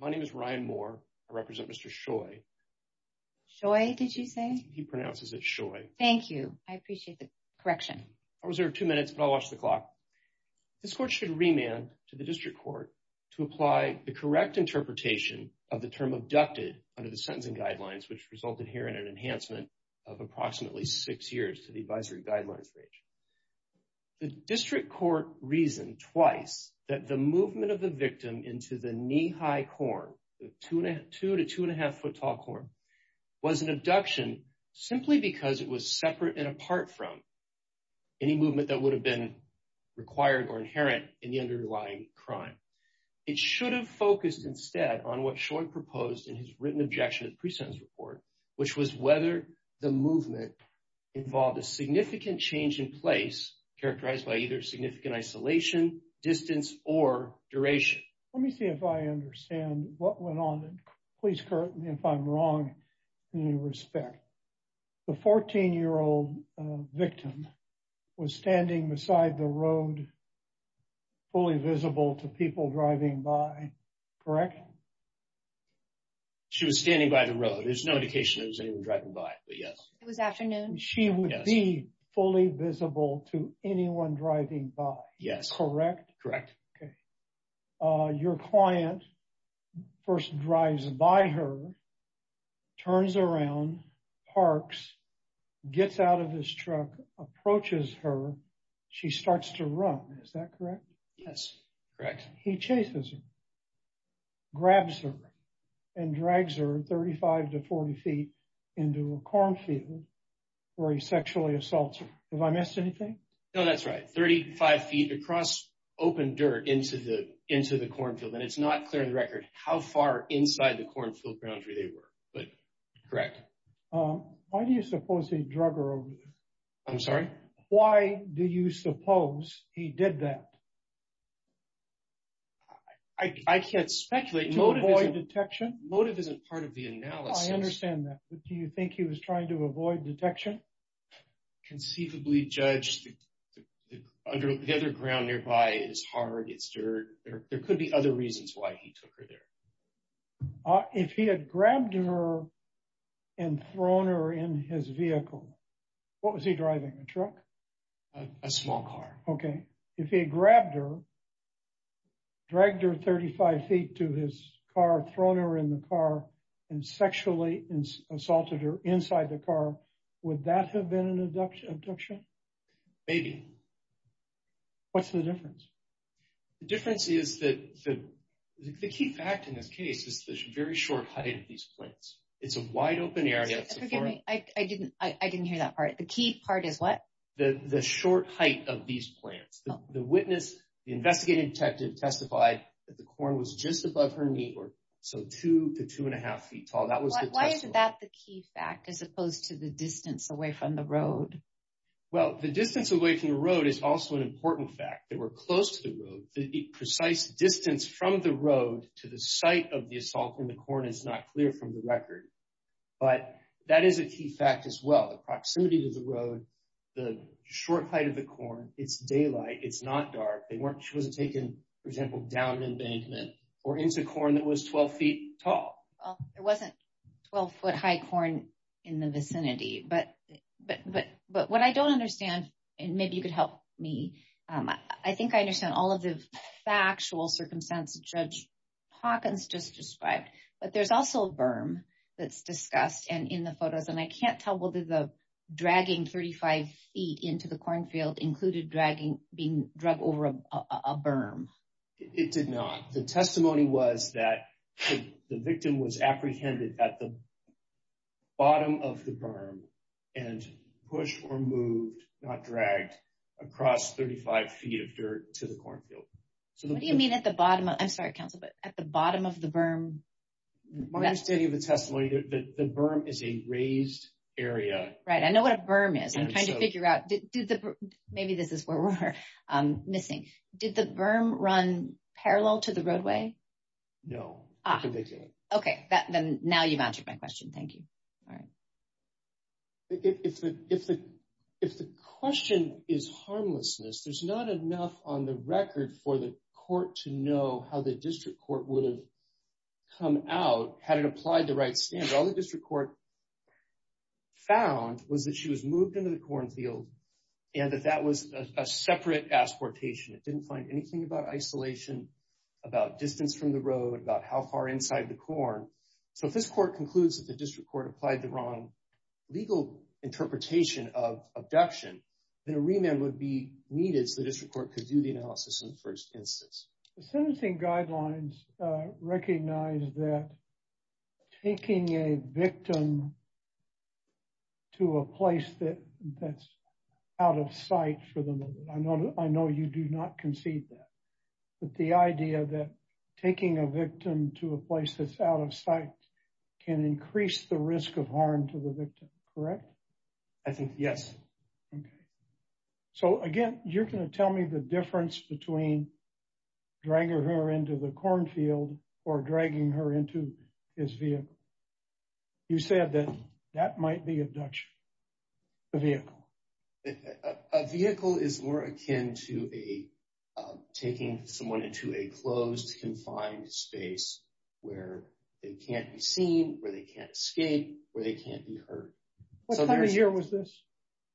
My name is Ryan Moore. I represent Mr. Scheu. Scheu, did you say? He pronounces it Scheu. Thank you. I appreciate the correction. I'll reserve two minutes, but I'll watch the clock. This court should remand to the district court to apply the correct interpretation of the term abducted under the sentencing guidelines, which resulted here in an enhancement of approximately six years to the advisory guidelines range. The district court reasoned twice that the the two to two and a half foot tall corn was an abduction simply because it was separate and apart from any movement that would have been required or inherent in the underlying crime. It should have focused instead on what Scheu proposed in his written objection to the pre-sentence report, which was whether the movement involved a significant change in place characterized by either significant isolation, distance, or duration. Let me see if I understand what went on. Please correct me if I'm wrong in any respect. The 14-year-old victim was standing beside the road fully visible to people driving by, correct? She was standing by the road. There's no indication it was anyone driving by, but yes. It was afternoon. She would be fully visible to anyone driving by. Yes. Correct? Correct. Okay. Your client first drives by her, turns around, parks, gets out of his truck, approaches her. She starts to run. Is that correct? Yes, correct. He chases her, grabs her, and drags her 35 to 40 feet into a cornfield where he sexually assaults her. Have I missed anything? No, that's right. 35 feet across open dirt into the cornfield. And it's not clear on the record how far inside the cornfield ground where they were, but correct. Why do you suppose he drug her over there? I'm sorry? Why do you suppose he did that? I can't speculate. To avoid detection? Motive isn't part of the analysis. I understand that. But do you think he was trying to avoid detection? Conceivably, Judge, the other ground nearby is hard, it's dirt. There could be other reasons why he took her there. If he had grabbed her and thrown her in his vehicle, what was he driving? A truck? A small car. Okay. If he had grabbed her, dragged her 35 feet to his car, thrown her in the car, and sexually assaulted her inside the car, would that have been an abduction? Maybe. What's the difference? The difference is that the key fact in this case is the very short height of these plants. It's a wide open area. Excuse me. I didn't hear that part. The key part is what? The short height of these plants. The witness, the investigative detective testified that the plant was 2.5 feet tall. Why is that the key fact as opposed to the distance away from the road? Well, the distance away from the road is also an important fact. They were close to the road. The precise distance from the road to the site of the assault in the corn is not clear from the record. But that is a key fact as well. The proximity to the road, the short height of the corn, it's daylight, it's not dark. She wasn't taken, for example, down an embankment or into a corn that was 12 feet tall. There wasn't 12 foot high corn in the vicinity. But what I don't understand, and maybe you could help me, I think I understand all of the factual circumstances that Judge Hawkins just described. But there's also a berm that's discussed in the photos, and I can't tell whether the dragging 35 feet into the cornfield included being dragged over a berm. It did not. The testimony was that the victim was apprehended at the bottom of the berm and pushed or moved, not dragged, across 35 feet of dirt to the cornfield. So what do you mean at the bottom? I'm sorry, counsel, but at the bottom of the berm? My understanding of the testimony, the berm is a raised area. Right. I know what a berm is. I'm trying to figure out, maybe this is where we're missing. Did the berm run parallel to the roadway? No, it didn't. Okay, then now you've answered my question. Thank you. All right. If the question is harmlessness, there's not enough on the record for the court to know how the district court would have come out had it applied the right standard. All the district court found was that she was moved into the cornfield and that that was a separate asportation. It didn't find anything about isolation, about distance from the road, about how far inside the corn. So if this court concludes that the district court applied the wrong legal interpretation of abduction, then a remand would be needed so the district court could do the analysis in the first instance. The sentencing guidelines recognize that taking a victim to a place that's out of sight for the moment. I know you do not concede that. But the idea that taking a victim to a place that's out of sight can increase the risk of harm to the victim, correct? I think, yes. Okay. So again, you're going to tell me the difference between dragging her into the cornfield or dragging her into his vehicle. You said that that might be abduction, the vehicle. A vehicle is more akin to taking someone into a closed confined space where they can't be seen, where they can't escape, where they can't be heard. What time of year was this?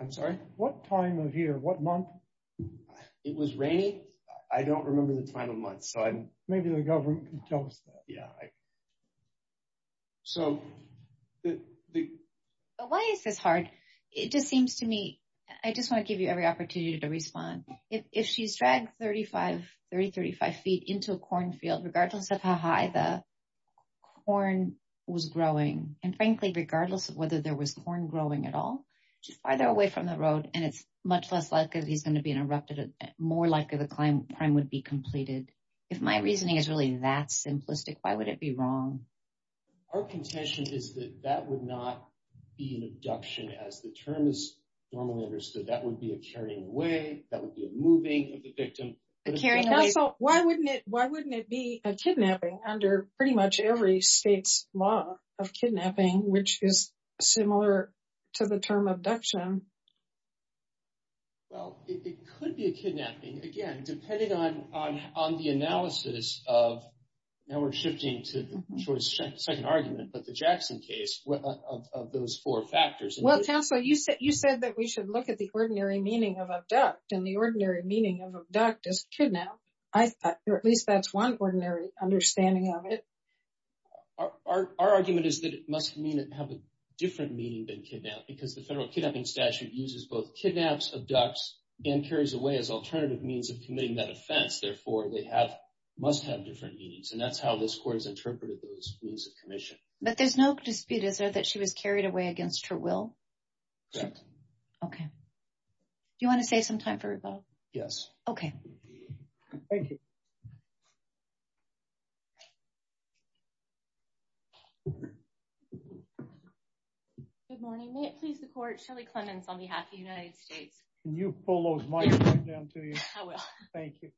I'm sorry? What time of year? What month? It was rainy. I don't remember the time of month. So maybe the government can tell us that. Yeah. So why is this hard? It just seems to me, I just want to give you every opportunity to respond. If she's dragged 30, 35 feet into a cornfield, regardless of how high the corn was growing, and frankly, regardless of whether there was corn growing at all, she's farther away from the road, and it's much less likely that he's going to be interrupted, more likely the crime would be completed. If my reasoning is really that simplistic, why would it be wrong? Our contention is that that would not be an abduction as the term is normally understood. That would be a carrying away, that would be a moving of the victim. Why wouldn't it be a kidnapping under pretty much every state's law of kidnapping, which is similar to the term abduction? Well, it could be a kidnapping, again, depending on the analysis of, now we're shifting to the second argument, but the Jackson case of those four factors. Well, counsel, you said that we should look at the ordinary meaning of abduct, and the ordinary meaning of abduct is kidnap. At least that's one ordinary understanding of it. Our argument is that it must have a different meaning than kidnap, because the federal kidnapping statute uses both kidnaps, abducts, and carries away as alternative means of committing that offense. Therefore, they must have different meanings, and that's how this court has interpreted those means of commission. But there's no dispute, is there, that she was carried away against her will? Correct. Okay. Do you want to save some time for rebuttal? Yes. Okay. Thank you. Good morning. May it please the court, Shelley Clemons on behalf of the United States. Can you pull those mics right down to you? I will. Thank you.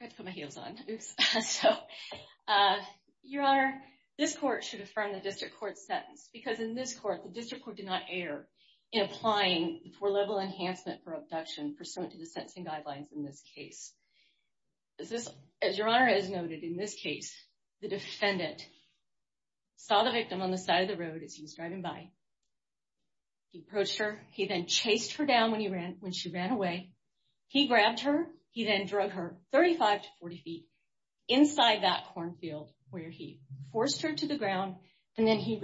I have to put my heels on. Your Honor, this court should affirm the district court's sentence, because in this court, the district court did not err in applying the four-level enhancement for abduction pursuant to the sentencing guidelines in this case. As Your Honor has noted, in this case, the defendant saw the victim on the side of the road as he was driving by. He approached her. He then chased her down when she ran away. He grabbed her. He then drug her 35 to 40 feet inside that cornfield, where he forced her to the ground, and then he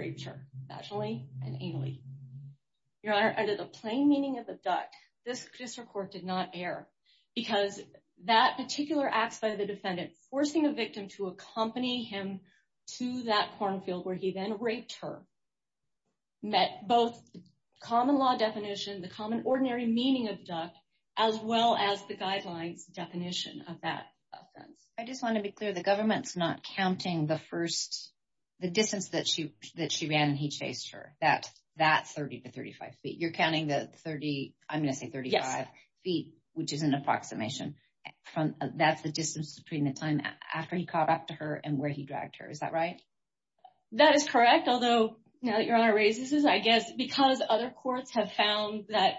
Because that particular act by the defendant, forcing a victim to accompany him to that cornfield where he then raped her, met both common law definition, the common ordinary meaning of abduct, as well as the guidelines definition of that offense. I just want to be clear, the government's not counting the distance that she ran and he chased her, that 30 to 35 feet. You're counting the 30, I'm going to say 35 feet, which is an approximation. That's the distance between the time after he caught up to her and where he dragged her. Is that right? That is correct. Although, now that Your Honor raises this, I guess because other courts have found that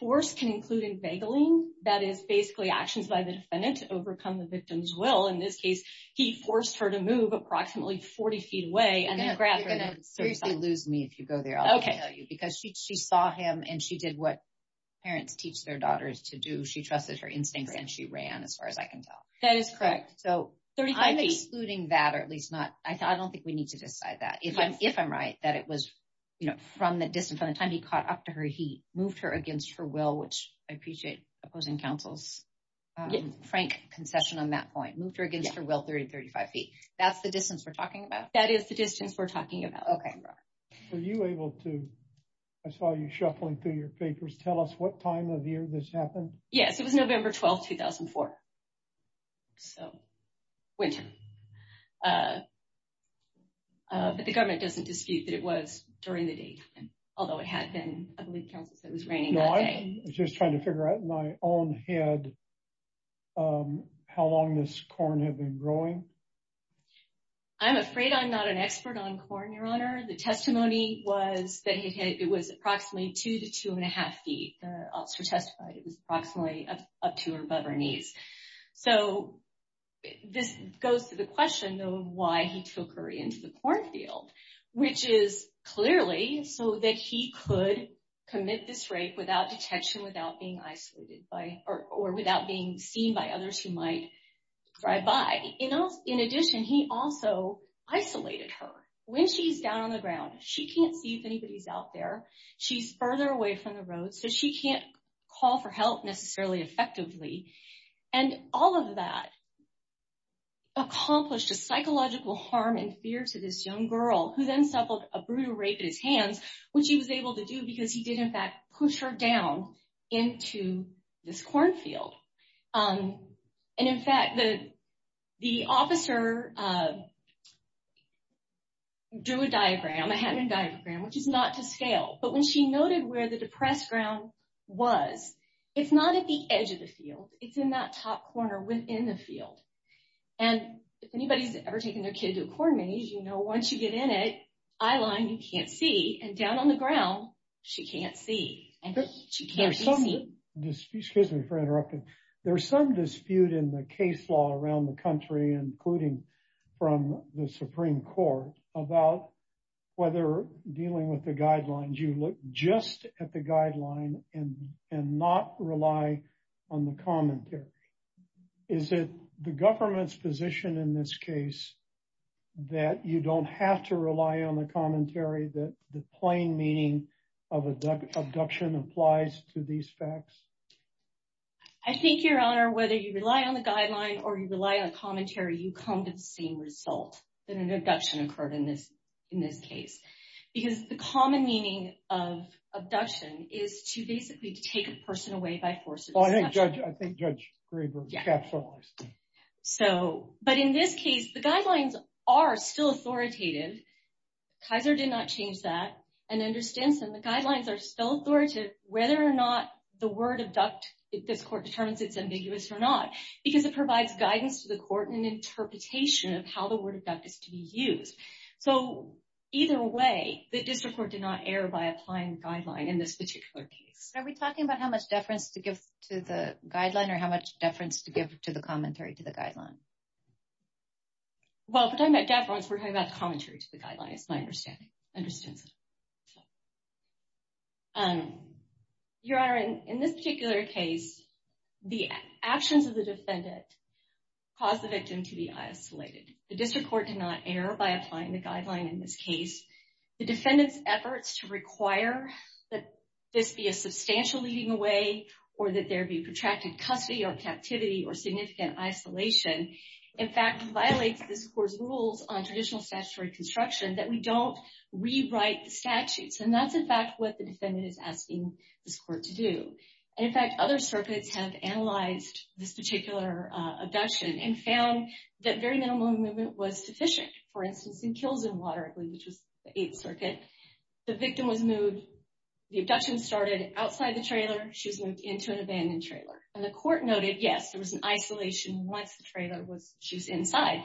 force can include inveigling, that is basically actions by the defendant to overcome the victim's will. In this case, he forced her to move approximately 40 feet away and then grab her. Seriously, lose me if you go there, I'll tell you. Because she saw him and she did what parents teach their daughters to do. She trusted her instincts and she ran, as far as I can tell. That is correct. So I'm excluding that, or at least not, I don't think we need to decide that. If I'm right, that it was from the distance, from the time he caught up to her, he moved her against her will, which I appreciate opposing counsel's frank concession on that point. Moved her against her will 30 to 35 feet. That's the distance we're talking about. That is the distance we're talking about. Okay, Your Honor. Were you able to, I saw you shuffling through your papers, tell us what time of year this happened? Yes, it was November 12th, 2004. So, winter. But the government doesn't dispute that it was during the day, although it had been, I believe counsel said it was raining that day. No, I was just trying to figure out in my own head how long this corn had been growing. I'm afraid I'm not an expert on corn, Your Honor. The testimony was that it was approximately two to two and a half feet. The officer testified it was approximately up to or above her knees. So, this goes to the question of why he took her into the corn field, which is clearly so that he could commit this rape without detection, without being isolated by, or without being seen by others who might drive by. In addition, he also isolated her. When she's down on the ground, she can't see if anybody's out there. She's further away from the road, so she can't call for help necessarily effectively. And all of that accomplished a psychological harm and fear to this young girl, who then suffered a brutal rape at his hands, which he was able to And in fact, the officer drew a diagram, a Hatton diagram, which is not to scale, but when she noted where the depressed ground was, it's not at the edge of the field, it's in that top corner within the field. And if anybody's ever taken their kid to a corn maze, you know, once you get in it, eyeline, you can't see, and down on the ground, she can't see. There's some dispute in the case law around the country, including from the Supreme Court, about whether dealing with the guidelines, you look just at the guideline and not rely on the commentary. Is it the government's position in this case that you don't have to rely on the applies to these facts? I think your honor, whether you rely on the guideline or you rely on commentary, you come to the same result that an abduction occurred in this case. Because the common meaning of abduction is to basically take a person away by force. Well, I think Judge Graber capitalized. But in this case, the guidelines are still authoritative. Kaiser did not change that and understands them. The guidelines are still authoritative, whether or not the word abduct, if this court determines it's ambiguous or not, because it provides guidance to the court and interpretation of how the word abduct is to be used. So either way, the district court did not err by applying the guideline in this particular case. Are we talking about how much deference to give to the guideline or how much deference to give to the commentary to the guideline? Well, we're talking about deference, we're talking about commentary to the guideline, my understanding. Your honor, in this particular case, the actions of the defendant caused the victim to be isolated. The district court did not err by applying the guideline in this case. The defendant's efforts to require that this be a substantial leading away or that there be protracted custody or captivity or significant isolation, in fact, violates this court's rules on traditional statutory construction that we don't rewrite the statutes. And that's, in fact, what the defendant is asking this court to do. And in fact, other circuits have analyzed this particular abduction and found that very minimal movement was sufficient. For instance, in Kills and Water, which was the Eighth Circuit, the victim was moved, the abduction started outside the trailer, she was moved into an abandoned trailer. And the court noted, yes, there was an isolation once the trailer was, she was inside.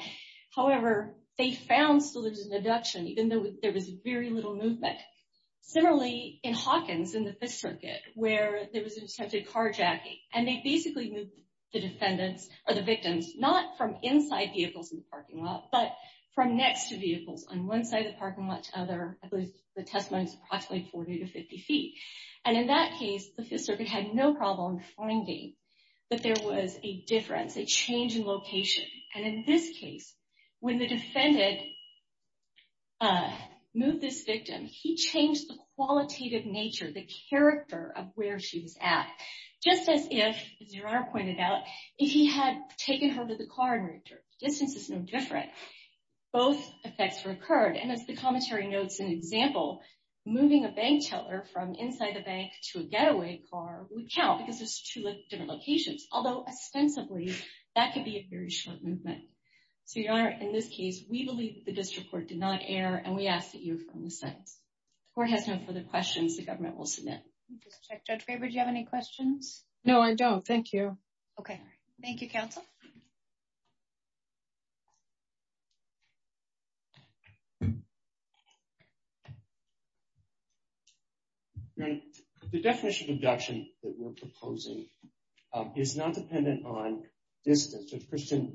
However, they found still there was an abduction, even though there was very little movement. Similarly, in Hawkins in the Fifth Circuit, where there was attempted carjacking, and they basically moved the defendants or the victims, not from inside vehicles in the parking lot, but from next to vehicles on one side of the parking lot to other, I believe the testimony is approximately 40 to 50 feet. And in that case, the Fifth Circuit had no problem finding that there was a difference, a change in location. And in this case, when the defendant moved this victim, he changed the qualitative nature, the character of where she was at. Just as if, as Your Honor pointed out, if he had taken her to the car and returned, the distance is no different, both effects recurred. And as the commentary notes an example, moving a bank teller from inside the bank to a getaway car would count because there's two different locations. Although ostensibly, that could be a very short movement. So Your Honor, in this case, we believe the district court did not err, and we ask that you affirm the sentence. The court has no further questions the government will submit. Judge Weber, do you have any questions? No, I don't. Thank you. Okay. Thank you, counsel. Your Honor, the definition of abduction that we're proposing is not dependent on distance. It's personally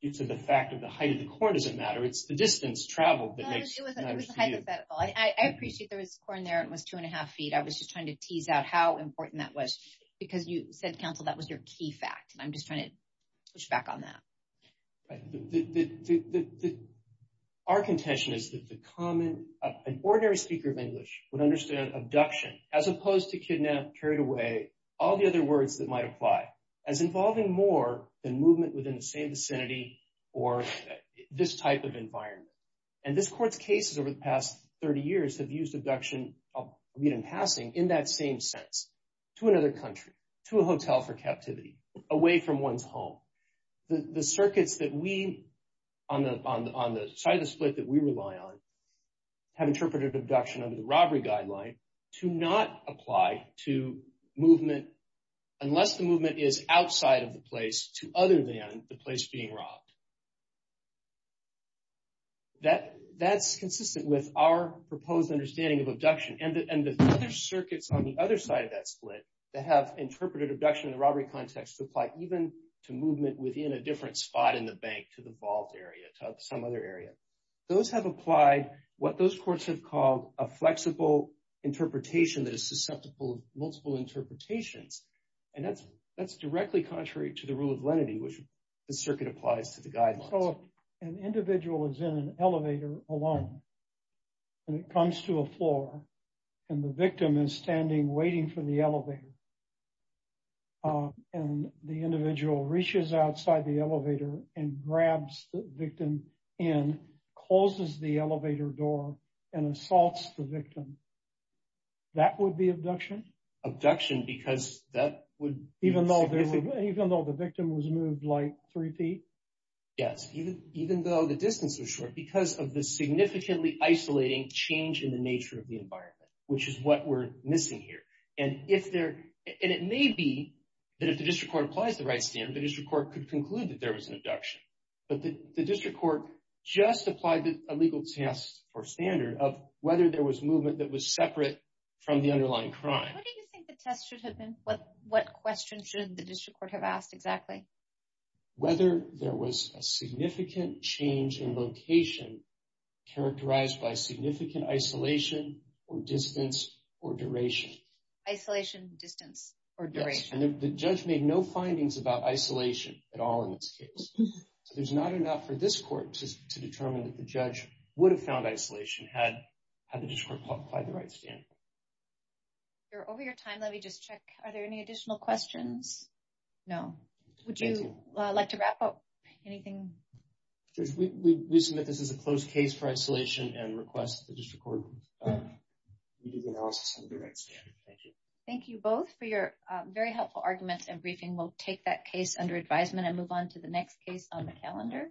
due to the fact that the height of the court doesn't matter. It's the distance traveled that makes matters real. It was hypothetical. I appreciate there was a court in there that was two and a half feet. I was just trying to tease out how important that was, because you said, counsel, that was your key fact. And I'm just trying to push back on that. The, our contention is that the common, an ordinary speaker of English would understand abduction as opposed to kidnap, carried away, all the other words that might apply, as involving more than movement within the same vicinity or this type of environment. And this court's cases over the past 30 years have used abduction, I'll read in passing, in that same sense, to another country, to a hotel for captivity, away from one's home. The circuits that we, on the side of the split that we rely on, have interpreted abduction under the robbery guideline to not apply to movement unless the movement is outside of the place to other than the place being robbed. That's consistent with our proposed understanding of abduction and the other circuits on the other side of that split that have interpreted abduction in the robbery context to apply even to movement within a different spot in the bank to the vault area, to some other area. Those have applied what those courts have called a flexible interpretation that is susceptible to multiple interpretations. And that's directly contrary to the rule of lenity, which the circuit applies to the guidelines. So, an individual is in an elevator alone, and it comes to a floor, and the victim is standing waiting for the elevator. And the individual reaches outside the elevator and grabs the victim in, closes the elevator door, and assaults the victim. That would be abduction? Abduction, because that would... Even though the victim was moved like three feet? Yes, even though the distance was short because of the significantly isolating change in the nature of the environment, which is what we're missing here. And it may be that if the district court applies the right standard, the district court could conclude that there was an abduction. But the district court just applied a legal test or standard of whether there was movement that was separate from the underlying crime. What do you think the test should have been? What questions should the district court have asked exactly? Whether there was a significant change in location, characterized by significant isolation, or distance, or duration. Isolation, distance, or duration? The judge made no findings about isolation at all in this case. So, there's not enough for this court to determine that the judge would have found isolation had the district court applied the right standard. You're over your time. Let me just check. Are there any additional questions? No. Would you like to wrap up? Anything? Judge, we submit this as a closed case for isolation and request the district court review the analysis under the right standard. Thank you. Thank you both for your very helpful arguments and briefing. We'll take that case under advisement and move on to the next case on the calendar.